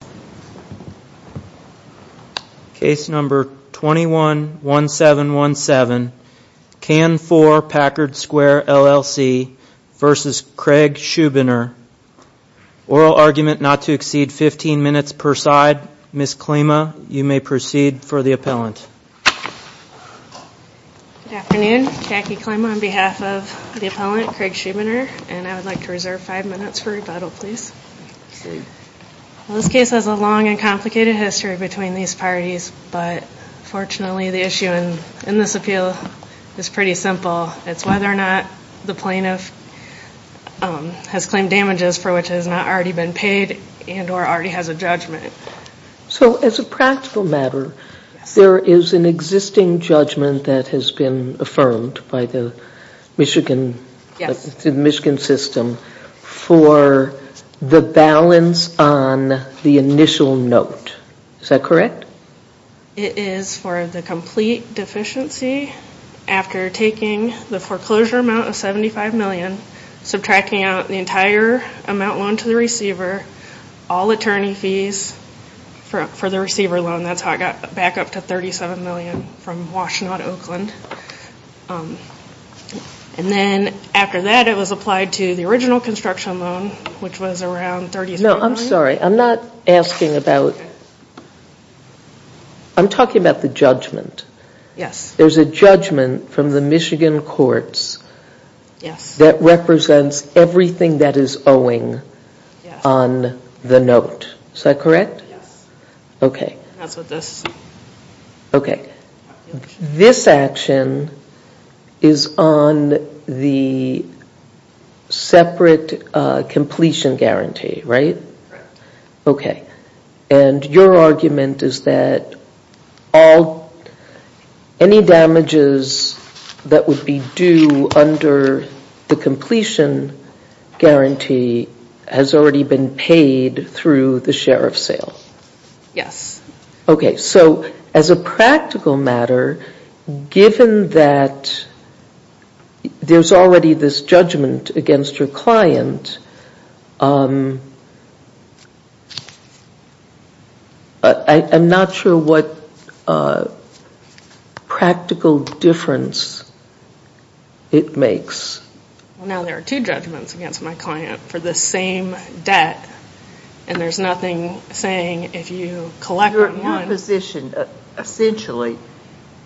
Oral argument not to exceed 15 minutes per side. Ms. Klima, you may proceed for the appellant. Good afternoon. Jackie Klima on behalf of the appellant, Craig Schubiner, and I would like to reserve 5 minutes for rebuttal, please. The case has a long and complicated history between these parties, but fortunately the issue in this appeal is pretty simple. It's whether or not the plaintiff has claimed damages for which it has not already been paid and or already has a judgment. So as a practical matter, there is an existing judgment that has been affirmed by the Michigan system for the balance on the initial note. Is that correct? It is for the complete deficiency after taking the foreclosure amount of $75 million, subtracting out the entire amount loaned to the receiver, all attorney fees for the receiver loan, that's how it got back up to $37 million from Washtenaw to Oakland. And then after that it was applied to the original construction loan, which was around $37 million. No, I'm sorry, I'm not asking about, I'm talking about the judgment. Yes. There's a judgment from the Michigan courts that represents everything that is owing on the note. Is that correct? Yes. Okay. That's what this is. Okay. This action is on the separate completion guarantee, right? Correct. Okay. And your argument is that any damages that would be due under the completion guarantee has already been paid through the share of sale? Yes. Okay. So as a practical matter, given that there's already this judgment against your client, I'm not sure what practical difference it makes. Well, now there are two judgments against my client for the same debt, and there's nothing saying if you collect one. Your position essentially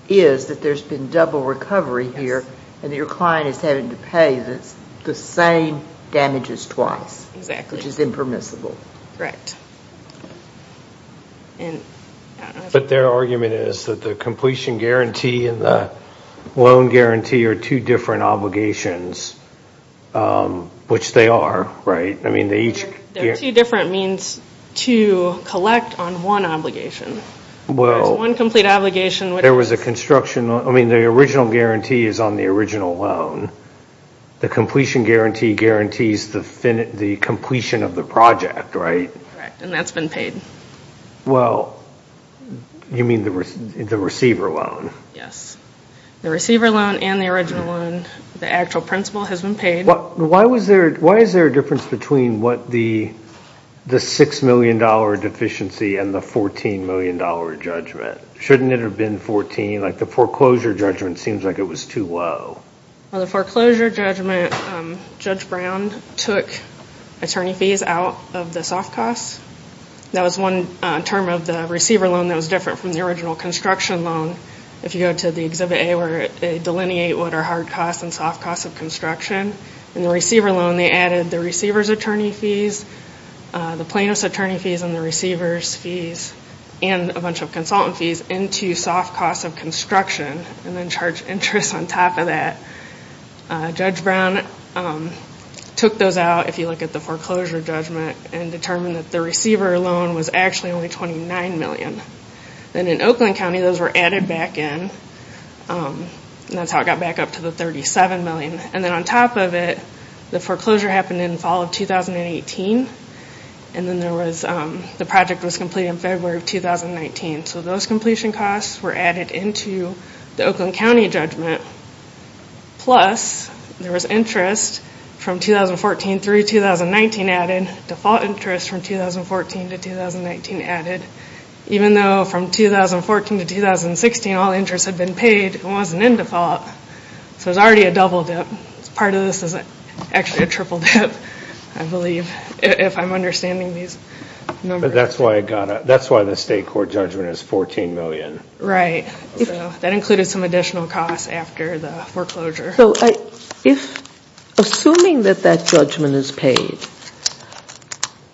is that there's been double recovery here and your client is having to pay the same damages twice. Exactly. Which is impermissible. Correct. But their argument is that the completion guarantee and the loan guarantee are two different obligations, which they are, right? They're two different means to collect on one obligation. Well, there was a construction, I mean the original guarantee is on the original loan. The completion guarantee guarantees the completion of the project, right? Correct. And that's been paid. Well, you mean the receiver loan? Yes. The receiver loan and the original loan, the actual principal has been paid. Why is there a difference between the $6 million deficiency and the $14 million judgment? Shouldn't it have been 14? Like the foreclosure judgment seems like it was too low. Well, the foreclosure judgment, Judge Brown took attorney fees out of the soft costs. That was one term of the receiver loan that was different from the original construction loan. If you go to the Exhibit A where they delineate what are hard costs and soft costs of construction. In the receiver loan, they added the receiver's attorney fees, the plaintiff's attorney fees, and the receiver's fees, and a bunch of consultant fees into soft costs of construction and then charged interest on top of that. Judge Brown took those out, if you look at the foreclosure judgment, and determined that the receiver loan was actually only $29 million. Then in Oakland County, those were added back in, and that's how it got back up to the $37 million. And then on top of it, the foreclosure happened in fall of 2018, and then the project was completed in February of 2019. So those completion costs were added into the Oakland County judgment. Plus, there was interest from 2014 through 2019 added, default interest from 2014 to 2019 added. Even though from 2014 to 2016 all interest had been paid, it wasn't in default. So it was already a double dip. Part of this is actually a triple dip, I believe, if I'm understanding these numbers. But that's why the state court judgment is $14 million. Right. That included some additional costs after the foreclosure. Assuming that that judgment is paid,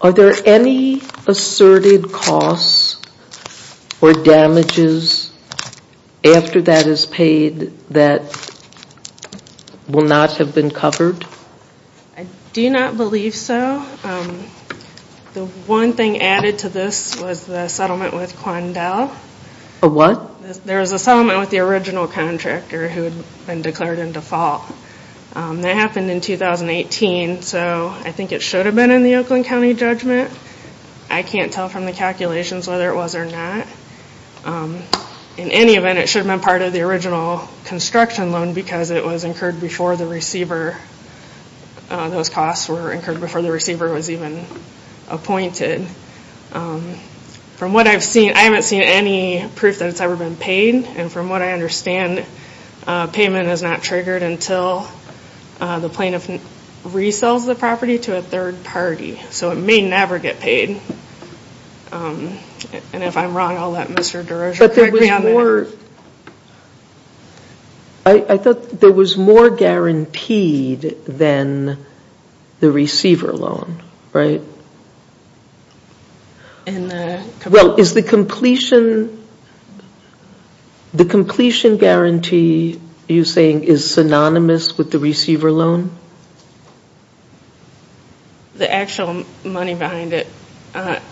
are there any asserted costs or damages after that is paid that will not have been covered? I do not believe so. The one thing added to this was the settlement with Quandel. A what? There was a settlement with the original contractor who had been declared in default. That happened in 2018, so I think it should have been in the Oakland County judgment. I can't tell from the calculations whether it was or not. In any event, it should have been part of the original construction loan because it was incurred before the receiver. Those costs were incurred before the receiver was even appointed. From what I've seen, I haven't seen any proof that it's ever been paid. And from what I understand, payment is not triggered until the plaintiff resells the property to a third party. So it may never get paid. And if I'm wrong, I'll let Mr. Derosa correct me on that. I thought there was more guaranteed than the receiver loan, right? Well, is the completion guarantee you're saying is synonymous with the receiver loan? The actual money behind it.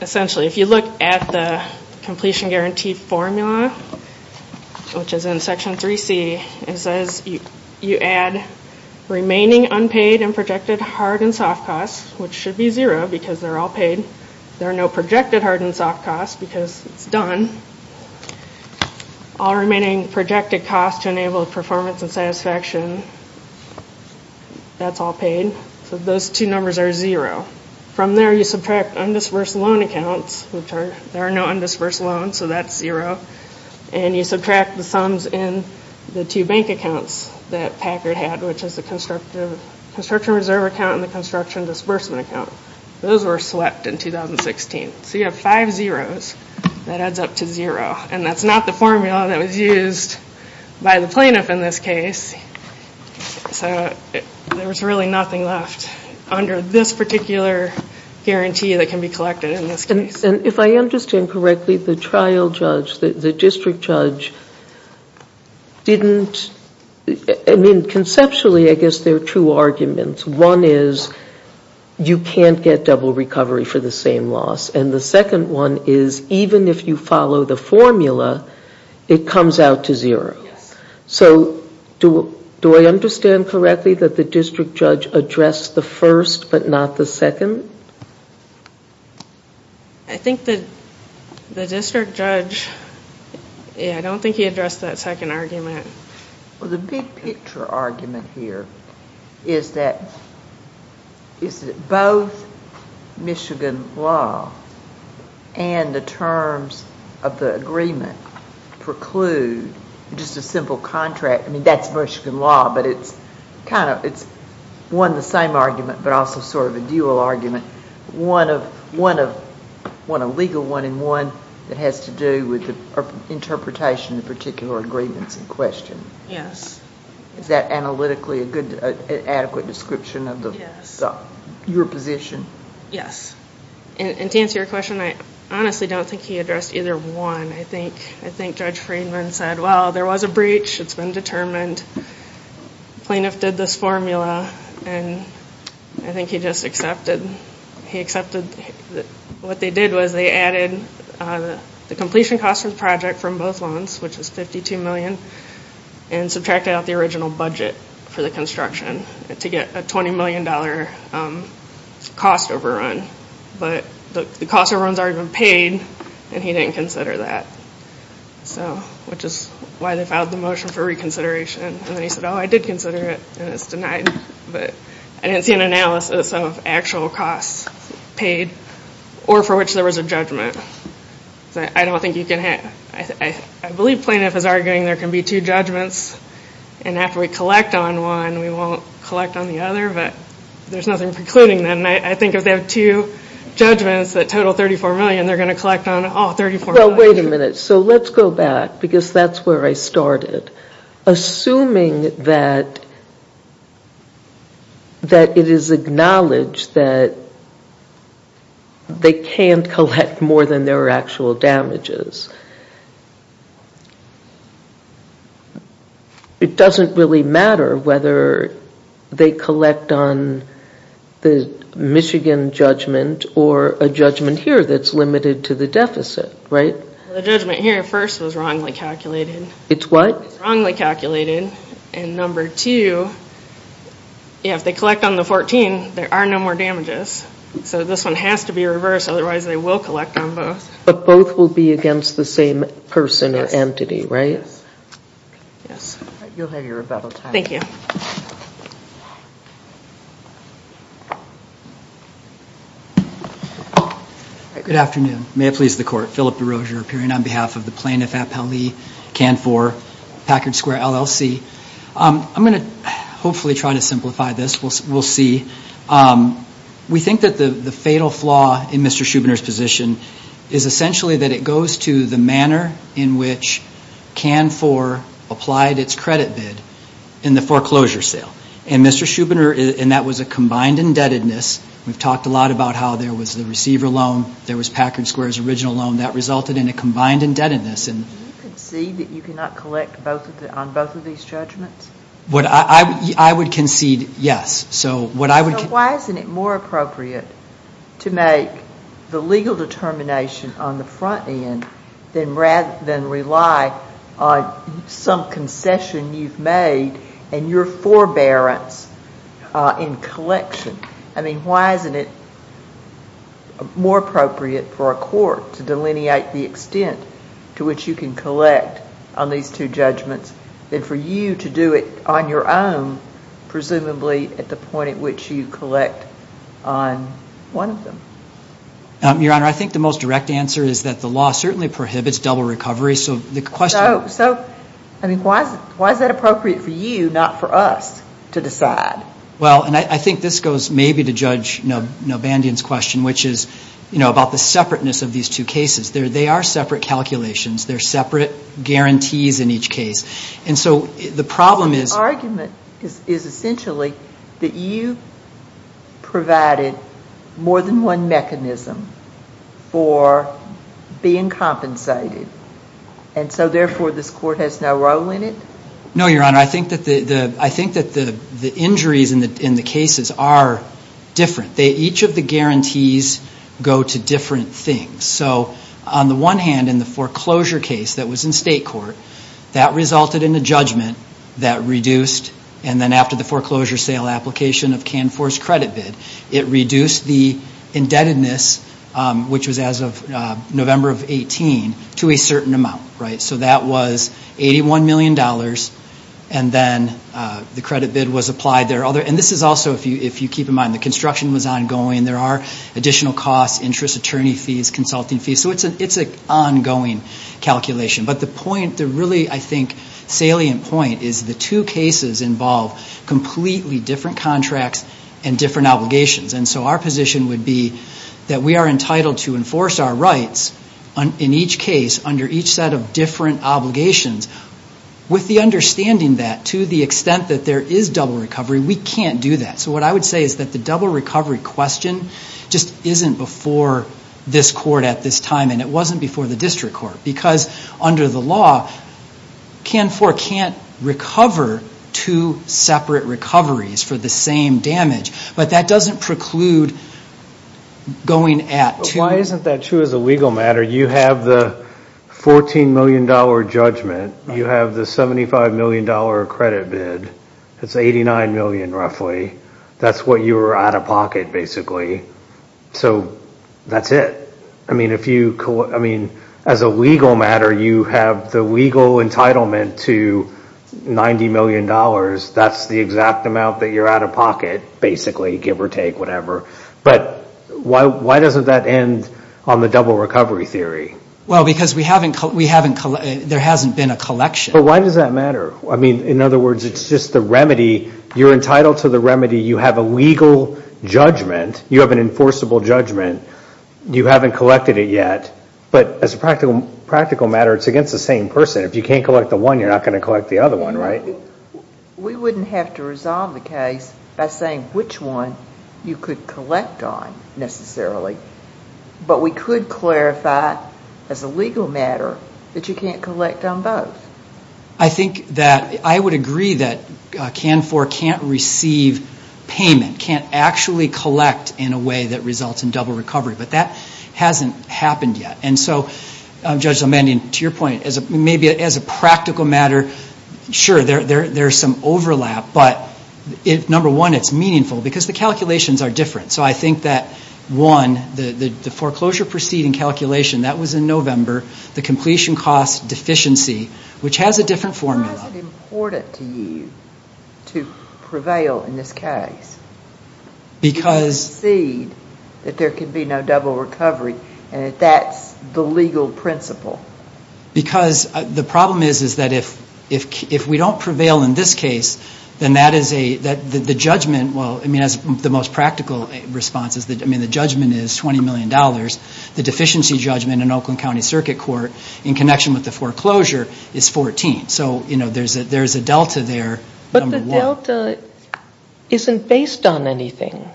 Essentially, if you look at the completion guarantee formula, which is in Section 3C, it says you add remaining unpaid and projected hard and soft costs, which should be zero because they're all paid. There are no projected hard and soft costs because it's done. All remaining projected costs to enable performance and satisfaction, that's all paid. So those two numbers are zero. From there, you subtract undisbursed loan accounts. There are no undisbursed loans, so that's zero. And you subtract the sums in the two bank accounts that Packard had, which is the construction reserve account and the construction disbursement account. Those were swept in 2016. So you have five zeros. That adds up to zero. And that's not the formula that was used by the plaintiff in this case. So there was really nothing left. Under this particular guarantee that can be collected in this case. And if I understand correctly, the trial judge, the district judge, didn't – I mean, conceptually, I guess there are two arguments. One is you can't get double recovery for the same loss. And the second one is even if you follow the formula, it comes out to zero. Yes. So do I understand correctly that the district judge addressed the first but not the second? I think that the district judge – yeah, I don't think he addressed that second argument. Well, the big picture argument here is that both Michigan law and the terms of the agreement preclude just a simple contract. I mean, that's Michigan law, but it's kind of – it's one, the same argument, but also sort of a dual argument. One a legal one and one that has to do with the interpretation of particular agreements in question. Yes. Is that analytically a good adequate description of your position? Yes. And to answer your question, I honestly don't think he addressed either one. I think Judge Friedman said, well, there was a breach. It's been determined. Plaintiff did this formula, and I think he just accepted – he accepted that what they did was they added the completion cost for the project from both loans, which was $52 million, and subtracted out the original budget for the construction to get a $20 million cost overrun. But the cost overrun's already been paid, and he didn't consider that, which is why they filed the motion for reconsideration. And then he said, oh, I did consider it, and it's denied. But I didn't see an analysis of actual costs paid or for which there was a judgment. I don't think you can – I believe plaintiff is arguing there can be two judgments, and after we collect on one, we won't collect on the other, but there's nothing precluding that. And I think if they have two judgments that total $34 million, they're going to collect on all $34 million. Well, wait a minute. So let's go back, because that's where I started. Assuming that it is acknowledged that they can't collect more than their actual damages, it doesn't really matter whether they collect on the Michigan judgment or a judgment here that's limited to the deficit, right? The judgment here at first was wrongly calculated. It's what? It's wrongly calculated. And number two, if they collect on the 14, there are no more damages. So this one has to be reversed, otherwise they will collect on both. But both will be against the same person or entity, right? Yes. Yes. You'll have your rebuttal time. Thank you. Good afternoon. May it please the Court. Philip DeRozier appearing on behalf of the plaintiff at Pelley, Canfor, Packard Square, LLC. I'm going to hopefully try to simplify this. We'll see. We think that the fatal flaw in Mr. Schubiner's position is essentially that it goes to the manner in which Canfor applied its credit bid in the foreclosure sale. And Mr. Schubiner, and that was a combined indebtedness. We've talked a lot about how there was the receiver loan. There was Packard Square's original loan. That resulted in a combined indebtedness. Do you concede that you cannot collect on both of these judgments? I would concede yes. So why isn't it more appropriate to make the legal determination on the front end than rely on some concession you've made and your forbearance in collection? I mean, why isn't it more appropriate for a court to delineate the extent to which you can collect on these two judgments than for you to do it on your own, presumably, at the point at which you collect on one of them? Your Honor, I think the most direct answer is that the law certainly prohibits double recovery. So the question is why is that appropriate for you, not for us, to decide? Well, and I think this goes maybe to Judge Nobandian's question, which is about the separateness of these two cases. They are separate calculations. They're separate guarantees in each case. And so the problem is the argument is essentially that you provided more than one mechanism for being compensated, and so therefore this court has no role in it? No, Your Honor. I think that the injuries in the cases are different. Each of the guarantees go to different things. So on the one hand, in the foreclosure case that was in state court, that resulted in a judgment that reduced, and then after the foreclosure sale application of Canfor's credit bid, it reduced the indebtedness, which was as of November of 18, to a certain amount. So that was $81 million, and then the credit bid was applied. And this is also, if you keep in mind, the construction was ongoing. There are additional costs, interest, attorney fees, consulting fees. So it's an ongoing calculation. But the really, I think, salient point is the two cases involve completely different contracts and different obligations. And so our position would be that we are entitled to enforce our rights in each case under each set of different obligations. With the understanding that to the extent that there is double recovery, we can't do that. So what I would say is that the double recovery question just isn't before this court at this time, and it wasn't before the district court because under the law, Canfor can't recover two separate recoveries for the same damage. But that doesn't preclude going at two. It isn't that true as a legal matter. You have the $14 million judgment. You have the $75 million credit bid. It's $89 million, roughly. That's what you were out of pocket, basically. So that's it. I mean, as a legal matter, you have the legal entitlement to $90 million. That's the exact amount that you're out of pocket, basically, give or take, whatever. But why doesn't that end on the double recovery theory? Well, because there hasn't been a collection. But why does that matter? I mean, in other words, it's just the remedy. You're entitled to the remedy. You have a legal judgment. You have an enforceable judgment. You haven't collected it yet. But as a practical matter, it's against the same person. If you can't collect the one, you're not going to collect the other one, right? We wouldn't have to resolve the case by saying which one you could collect on, necessarily. But we could clarify, as a legal matter, that you can't collect on both. I think that I would agree that CANFOR can't receive payment, can't actually collect in a way that results in double recovery. But that hasn't happened yet. And so, Judge Zeldmanian, to your point, maybe as a practical matter, sure, there's some overlap. But, number one, it's meaningful because the calculations are different. So I think that, one, the foreclosure proceeding calculation, that was in November, the completion cost deficiency, which has a different formula. Why is it important to you to prevail in this case? Because... Proceed that there can be no double recovery, and that's the legal principle. Because the problem is, is that if we don't prevail in this case, then that is a, the judgment, well, I mean, as the most practical response is, I mean, the judgment is $20 million. The deficiency judgment in Oakland County Circuit Court, in connection with the foreclosure, is 14. So, you know, there's a delta there, number one. But the delta isn't based on anything.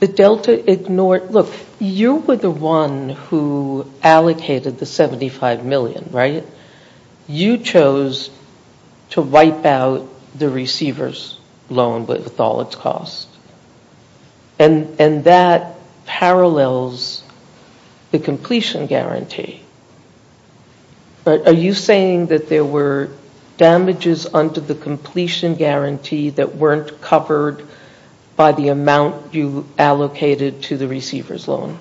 The delta ignored... Look, you were the one who allocated the $75 million, right? You chose to wipe out the receiver's loan with all its cost. And that parallels the completion guarantee. Are you saying that there were damages under the completion guarantee that weren't covered by the amount you allocated to the receiver's loan?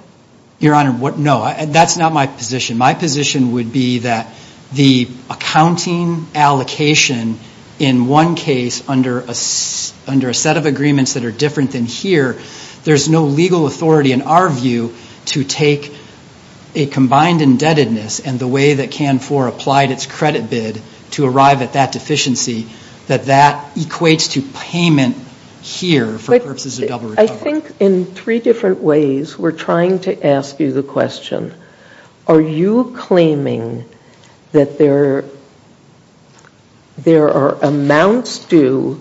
Your Honor, no. That's not my position. My position would be that the accounting allocation, in one case, under a set of agreements that are different than here, there's no legal authority, in our view, to take a combined indebtedness and the way that Canfor applied its credit bid to arrive at that deficiency, that that equates to payment here for purposes of double recovery. I think in three different ways we're trying to ask you the question, are you claiming that there are amounts due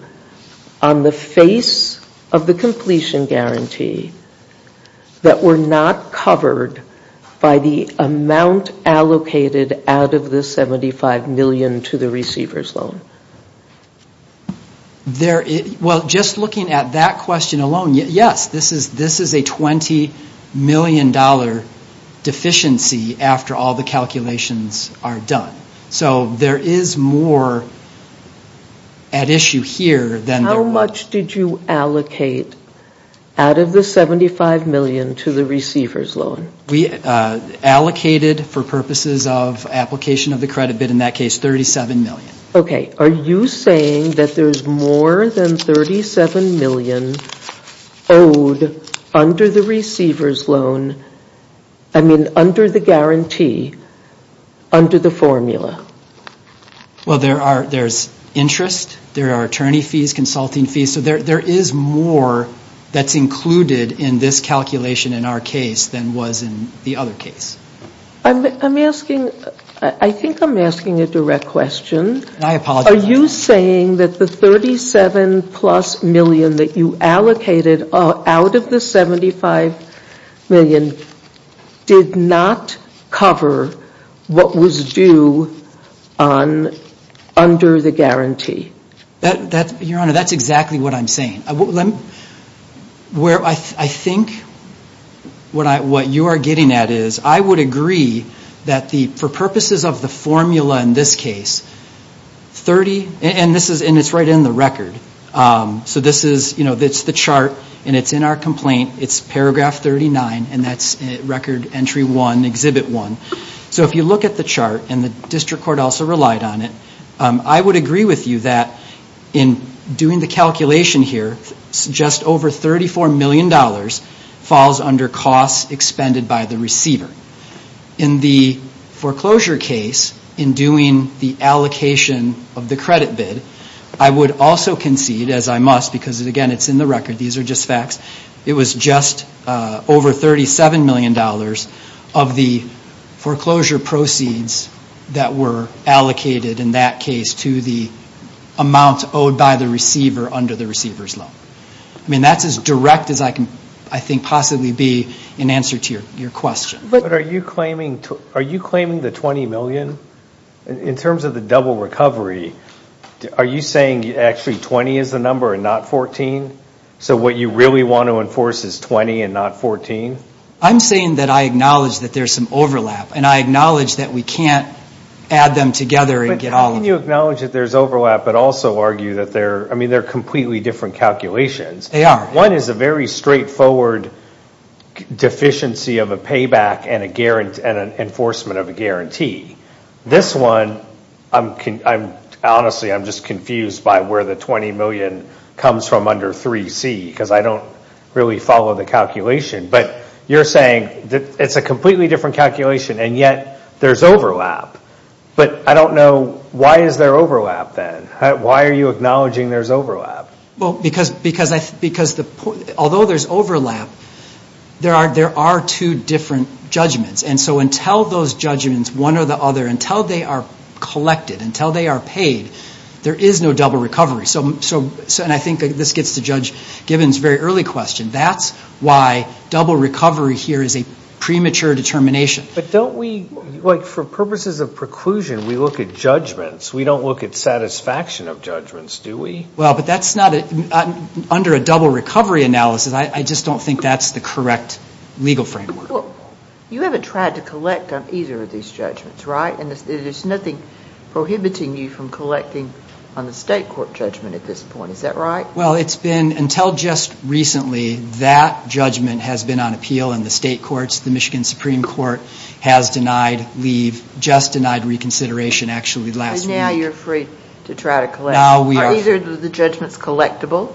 on the face of the completion guarantee that were not covered by the amount allocated out of the $75 million to the receiver's loan? Well, just looking at that question alone, yes. This is a $20 million deficiency after all the calculations are done. So there is more at issue here than there was... How much did you allocate out of the $75 million to the receiver's loan? We allocated, for purposes of application of the credit bid in that case, $37 million. Okay. Are you saying that there's more than $37 million owed under the receiver's loan, I mean under the guarantee, under the formula? Well, there's interest. There are attorney fees, consulting fees. So there is more that's included in this calculation in our case than was in the other case. I'm asking, I think I'm asking a direct question. I apologize. Are you saying that the $37 plus million that you allocated out of the $75 million did not cover what was due under the guarantee? Your Honor, that's exactly what I'm saying. I think what you are getting at is I would agree that for purposes of the formula in this case, and it's right in the record, so this is the chart and it's in our complaint. It's Paragraph 39, and that's Record Entry 1, Exhibit 1. So if you look at the chart, and the district court also relied on it, I would agree with you that in doing the calculation here, just over $34 million falls under costs expended by the receiver. In the foreclosure case, in doing the allocation of the credit bid, I would also concede, as I must, because, again, it's in the record. These are just facts. It was just over $37 million of the foreclosure proceeds that were allocated in that case to the amount owed by the receiver under the receiver's loan. I mean, that's as direct as I can, I think, possibly be in answer to your question. But are you claiming the $20 million? In terms of the double recovery, are you saying actually 20 is the number and not 14? So what you really want to enforce is 20 and not 14? I'm saying that I acknowledge that there's some overlap, and I acknowledge that we can't add them together and get all of them. But how can you acknowledge that there's overlap but also argue that they're, I mean, they're completely different calculations? They are. One is a very straightforward deficiency of a payback and an enforcement of a guarantee. This one, honestly, I'm just confused by where the $20 million comes from under 3C because I don't really follow the calculation. But you're saying it's a completely different calculation, and yet there's overlap. But I don't know, why is there overlap then? Why are you acknowledging there's overlap? Well, because although there's overlap, there are two different judgments. And so until those judgments, one or the other, until they are collected, until they are paid, there is no double recovery. And I think this gets to Judge Gibbons' very early question. That's why double recovery here is a premature determination. But don't we, like for purposes of preclusion, we look at judgments. We don't look at satisfaction of judgments, do we? Well, but that's not, under a double recovery analysis, I just don't think that's the correct legal framework. Well, you haven't tried to collect on either of these judgments, right? And there's nothing prohibiting you from collecting on the state court judgment at this point. Is that right? Well, it's been until just recently, that judgment has been on appeal in the state courts. The Michigan Supreme Court has denied leave, just denied reconsideration actually last week. And now you're free to try to collect. Now we are free. Are either of the judgments collectible?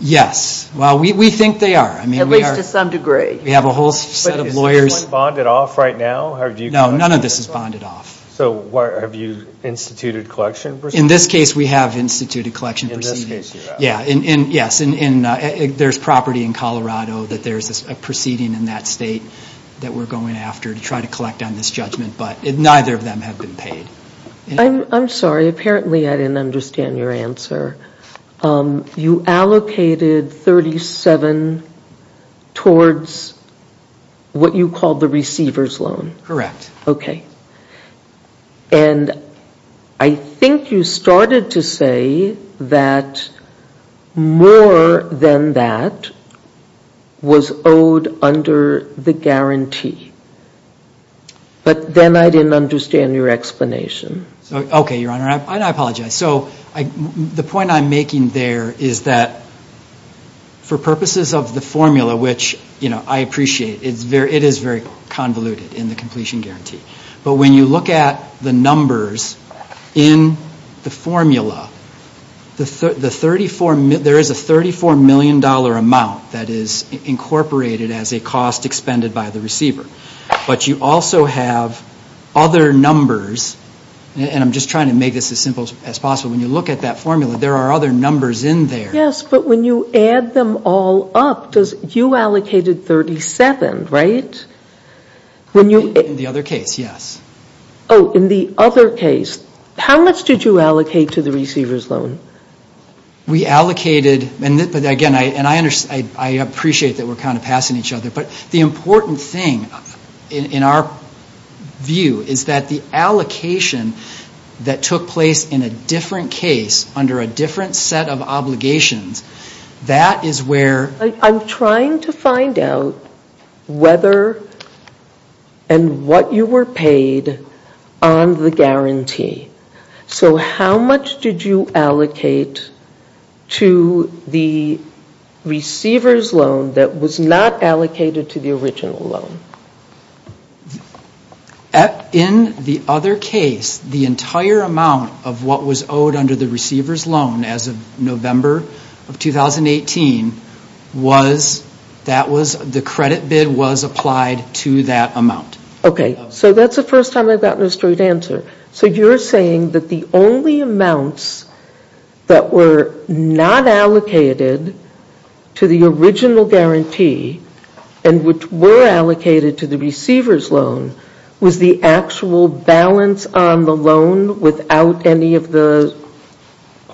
Yes. Well, we think they are. At least to some degree. We have a whole set of lawyers. But is this one bonded off right now? No, none of this is bonded off. So have you instituted collection proceedings? In this case, we have instituted collection proceedings. In this case, you have. Yes, and there's property in Colorado that there's a proceeding in that state that we're going after to try to collect on this judgment. But neither of them have been paid. I'm sorry. Apparently, I didn't understand your answer. You allocated 37 towards what you called the receiver's loan. Correct. Okay. And I think you started to say that more than that was owed under the guarantee. But then I didn't understand your explanation. Okay, Your Honor. I apologize. The point I'm making there is that for purposes of the formula, which I appreciate, it is very convoluted in the completion guarantee. But when you look at the numbers in the formula, there is a $34 million amount that is incorporated as a cost expended by the receiver. But you also have other numbers. And I'm just trying to make this as simple as possible. When you look at that formula, there are other numbers in there. Yes, but when you add them all up, you allocated 37, right? In the other case, yes. Oh, in the other case. How much did you allocate to the receiver's loan? We allocated, and again, I appreciate that we're kind of passing each other. But the important thing in our view is that the allocation that took place in a different case under a different set of obligations, that is where. I'm trying to find out whether and what you were paid on the guarantee. So how much did you allocate to the receiver's loan that was not allocated to the original loan? In the other case, the entire amount of what was owed under the receiver's loan as of November of 2018, the credit bid was applied to that amount. Okay, so that's the first time I've gotten a straight answer. So you're saying that the only amounts that were not allocated to the original guarantee and which were allocated to the receiver's loan was the actual balance on the loan without any of the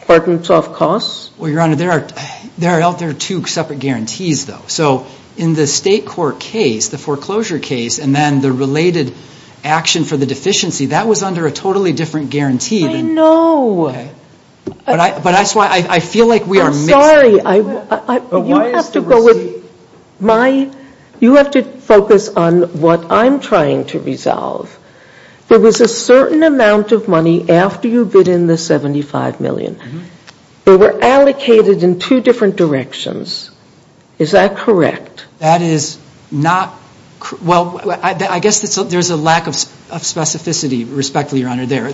hard and soft costs? Well, Your Honor, there are two separate guarantees, though. So in the State court case, the foreclosure case, and then the related action for the deficiency, that was under a totally different guarantee. I know. But that's why I feel like we are mixing. I'm sorry. You have to focus on what I'm trying to resolve. There was a certain amount of money after you bid in the $75 million. They were allocated in two different directions. Is that correct? That is not correct. Well, I guess there's a lack of specificity, respectfully, Your Honor, there.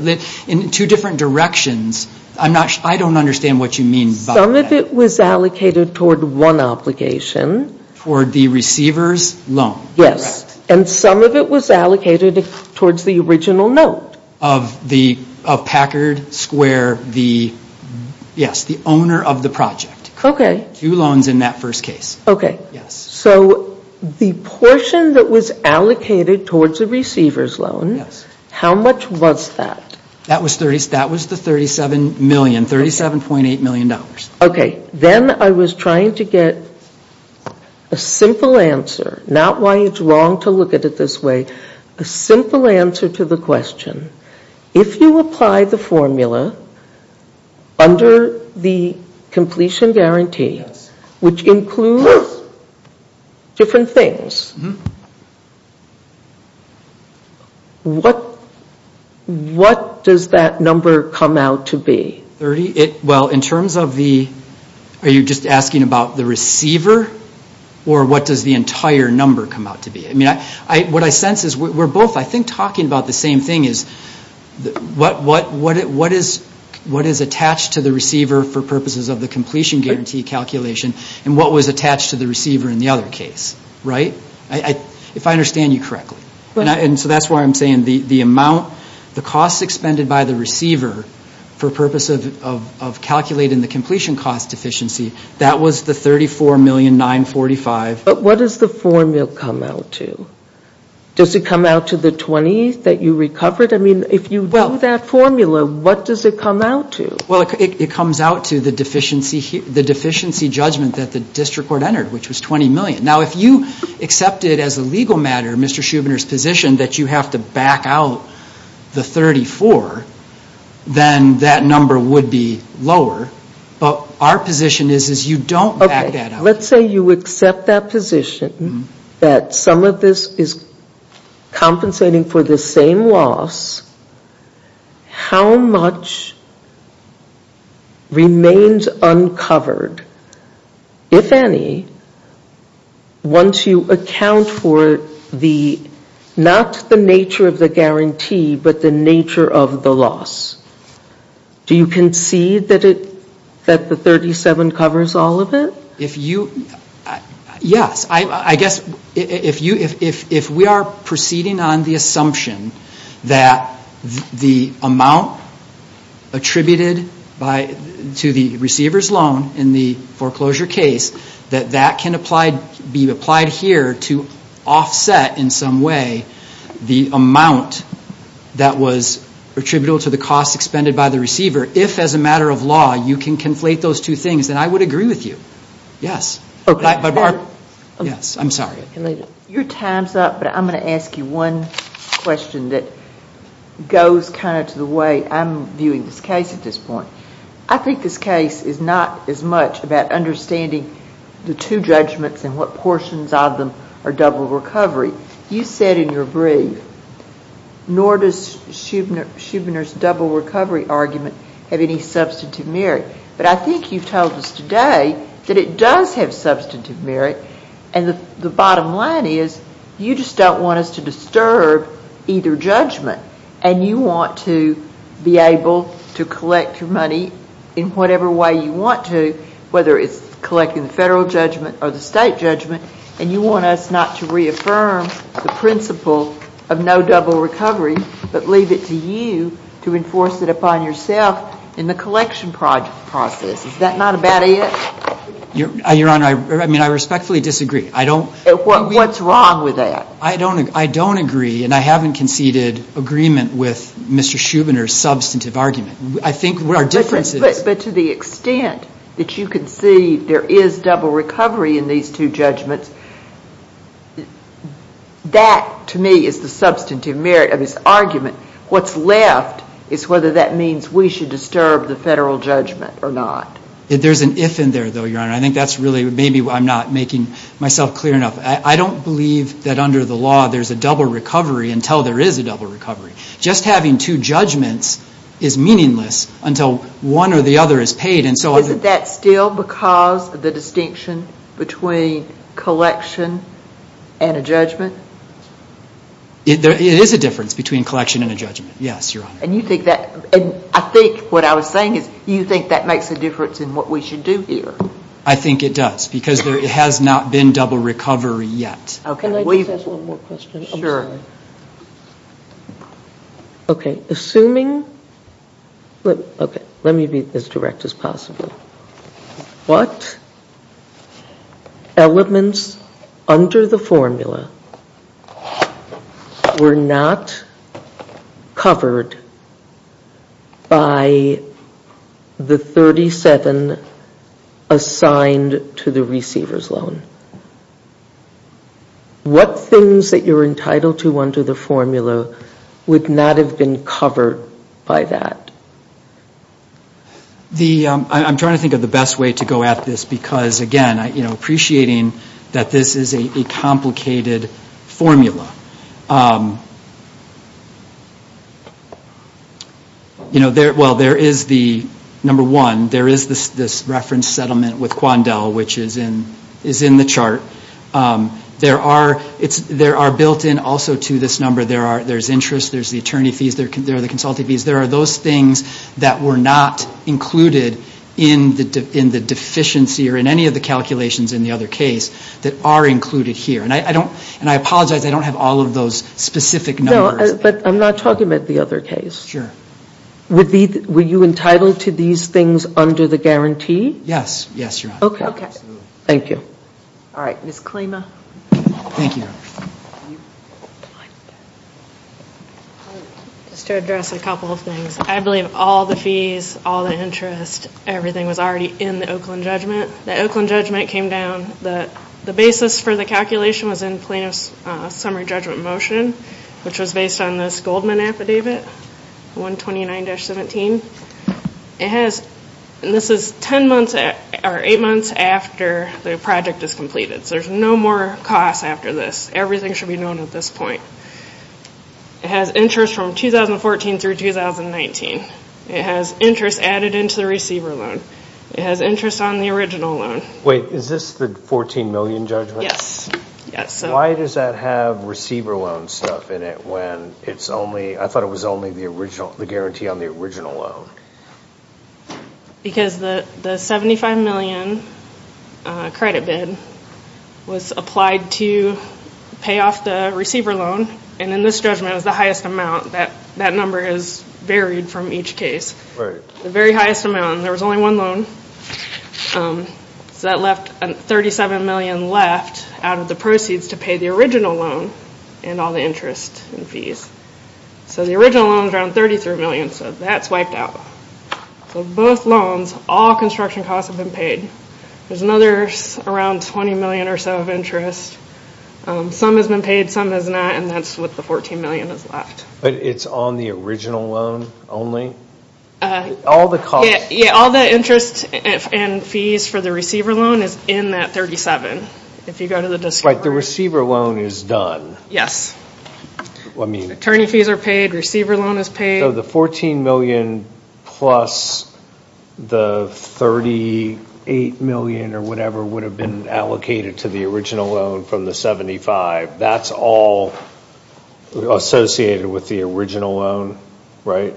In two different directions, I don't understand what you mean by that. Some of it was allocated toward one obligation. Toward the receiver's loan, correct? Yes, and some of it was allocated towards the original note. Of Packard Square, yes, the owner of the project. Okay. Two loans in that first case. Okay. So the portion that was allocated towards the receiver's loan, how much was that? That was the $37.8 million. Okay. Then I was trying to get a simple answer, not why it's wrong to look at it this way, a simple answer to the question. If you apply the formula under the completion guarantee, which includes different things, what does that number come out to be? Well, in terms of the, are you just asking about the receiver, or what does the entire number come out to be? What I sense is we're both, I think, talking about the same thing is what is attached to the receiver for purposes of the completion guarantee calculation, and what was attached to the receiver in the other case, right? If I understand you correctly. So that's why I'm saying the amount, the costs expended by the receiver for purposes of calculating the completion cost deficiency, that was the $34,945,000. But what does the formula come out to? Does it come out to the 20 that you recovered? I mean, if you do that formula, what does it come out to? Well, it comes out to the deficiency judgment that the district court entered, which was $20 million. Now, if you accept it as a legal matter, Mr. Shubiner's position, that you have to back out the 34, then that number would be lower. But our position is you don't back that out. Now, let's say you accept that position that some of this is compensating for the same loss. How much remains uncovered, if any, once you account for the, not the nature of the guarantee, but the nature of the loss? Do you concede that the 37 covers all of it? Yes. I guess if we are proceeding on the assumption that the amount attributed to the receiver's loan in the foreclosure case, that that can be applied here to offset in some way the amount that was attributable to the costs expended by the receiver, if, as a matter of law, you can conflate those two things, then I would agree with you. Yes. Pardon? Yes. I'm sorry. Your time's up, but I'm going to ask you one question that goes kind of to the way I'm viewing this case at this point. I think this case is not as much about understanding the two judgments and what portions of them are double recovery. You said in your brief, nor does Shubner's double recovery argument have any substantive merit. But I think you've told us today that it does have substantive merit, and the bottom line is you just don't want us to disturb either judgment, and you want to be able to collect your money in whatever way you want to, whether it's collecting the Federal judgment or the State judgment, and you want us not to reaffirm the principle of no double recovery, but leave it to you to enforce it upon yourself in the collection process. Is that not about it? Your Honor, I respectfully disagree. What's wrong with that? I don't agree, and I haven't conceded agreement with Mr. Shubner's substantive argument. But to the extent that you concede there is double recovery in these two judgments, that to me is the substantive merit of his argument. What's left is whether that means we should disturb the Federal judgment or not. There's an if in there, though, Your Honor. I think that's really maybe I'm not making myself clear enough. I don't believe that under the law there's a double recovery until there is a double recovery. Just having two judgments is meaningless until one or the other is paid. Isn't that still because of the distinction between collection and a judgment? It is a difference between collection and a judgment, yes, Your Honor. I think what I was saying is you think that makes a difference in what we should do here. I think it does, because there has not been double recovery yet. Can I just ask one more question? Sure. Okay. Assuming, okay, let me be as direct as possible. What elements under the formula were not covered by the 37 assigned to the receiver's loan? What things that you're entitled to under the formula would not have been covered by that? I'm trying to think of the best way to go at this, because, again, appreciating that this is a complicated formula. Well, there is the, number one, there is this reference settlement with Quandel, which is in the chart. There are built-in also to this number, there's interest, there's the attorney fees, there are the consultee fees. There are those things that were not included in the deficiency or in any of the calculations in the other case that are included here. And I apologize, I don't have all of those specific numbers. No, but I'm not talking about the other case. Sure. Were you entitled to these things under the guarantee? Yes, yes, Your Honor. Okay. Thank you. All right, Ms. Klima. Thank you, Your Honor. Just to address a couple of things. I believe all the fees, all the interest, everything was already in the Oakland judgment. The Oakland judgment came down. The basis for the calculation was in plaintiff's summary judgment motion, which was based on this Goldman affidavit, 129-17. It has, and this is eight months after the project is completed, so there's no more costs after this. Everything should be known at this point. It has interest from 2014 through 2019. It has interest added into the receiver loan. It has interest on the original loan. Wait, is this the 14 million judgment? Yes, yes. Why does that have receiver loan stuff in it when it's only, the guarantee on the original loan? Because the 75 million credit bid was applied to pay off the receiver loan, and in this judgment it was the highest amount. That number is varied from each case. Right. The very highest amount, and there was only one loan, so that left 37 million left out of the proceeds to pay the original loan and all the interest and fees. So the original loan is around 33 million, so that's wiped out. So both loans, all construction costs have been paid. There's another around 20 million or so of interest. Some has been paid, some has not, and that's what the 14 million has left. But it's on the original loan only? All the costs. Yeah, all the interest and fees for the receiver loan is in that 37. If you go to the description. Right, the receiver loan is done. Yes. Attorney fees are paid, receiver loan is paid. So the 14 million plus the 38 million or whatever would have been allocated to the original loan from the 75, that's all associated with the original loan, right?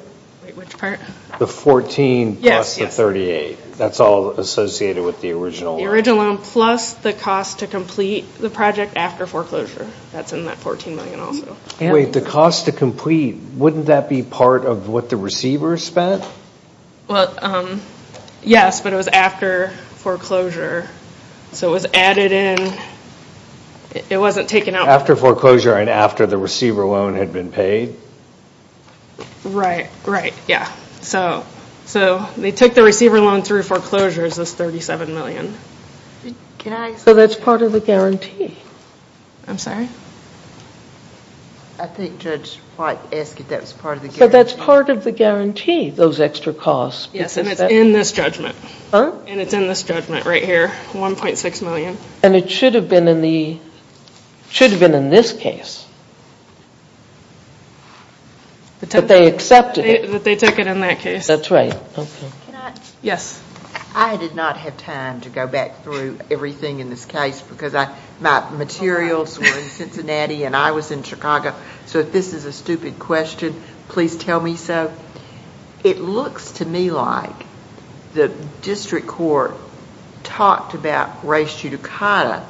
Which part? The 14 plus the 38. That's all associated with the original loan? The original loan plus the cost to complete the project after foreclosure. That's in that 14 million also. Wait, the cost to complete, wouldn't that be part of what the receiver spent? Well, yes, but it was after foreclosure, so it was added in. It wasn't taken out. After foreclosure and after the receiver loan had been paid? Right, right, yeah. So they took the receiver loan through foreclosures, this 37 million. So that's part of the guarantee? I'm sorry? I think Judge White asked if that was part of the guarantee. But that's part of the guarantee, those extra costs. Yes, and it's in this judgment. Huh? And it's in this judgment right here, 1.6 million. And it should have been in this case, but they accepted it. That they took it in that case. That's right, okay. Can I? Yes. I did not have time to go back through everything in this case because my materials were in Cincinnati and I was in Chicago, so if this is a stupid question, please tell me so. It looks to me like the district court talked about res judicata,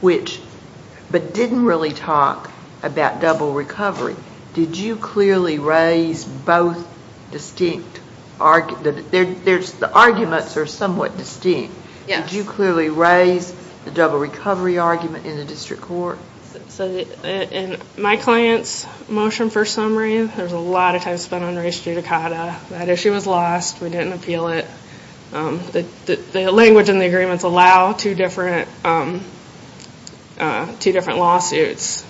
but didn't really talk about double recovery. Did you clearly raise both distinct arguments? The arguments are somewhat distinct. Yes. Did you clearly raise the double recovery argument in the district court? In my client's motion for summary, there's a lot of time spent on res judicata. That issue was lost. We didn't appeal it. The language in the agreements allow two different lawsuits.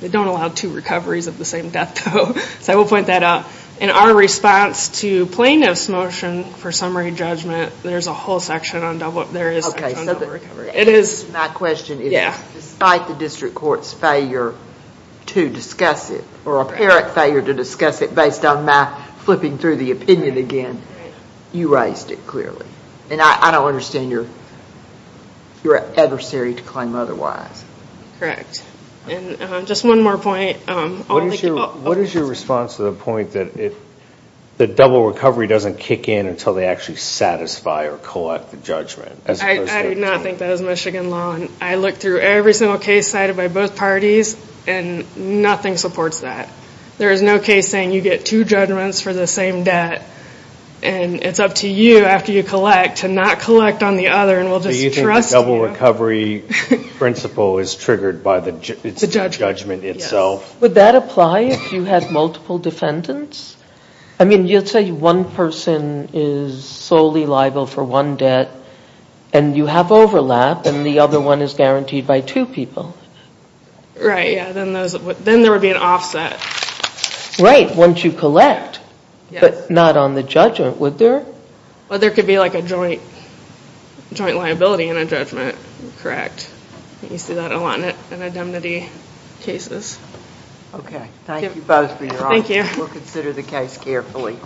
They don't allow two recoveries of the same death, though. So I will point that out. In our response to plaintiff's motion for summary judgment, there's a whole section on double recovery. My question is, despite the district court's failure to discuss it, or apparent failure to discuss it based on my flipping through the opinion again, you raised it clearly. And I don't understand your adversary to claim otherwise. Correct. And just one more point. What is your response to the point that double recovery doesn't kick in until they actually satisfy or collect the judgment? I do not think that is Michigan law. I look through every single case cited by both parties, and nothing supports that. There is no case saying you get two judgments for the same death, and it's up to you after you collect to not collect on the other and we'll just trust you. The double recovery principle is triggered by the judgment itself. Would that apply if you had multiple defendants? I mean, you'd say one person is solely liable for one death, and you have overlap, and the other one is guaranteed by two people. Right. Then there would be an offset. Right, once you collect, but not on the judgment, would there? Well, there could be like a joint liability and a judgment, correct. You see that a lot in indemnity cases. Okay. Thank you both for your answers. Thank you. We'll consider the case carefully.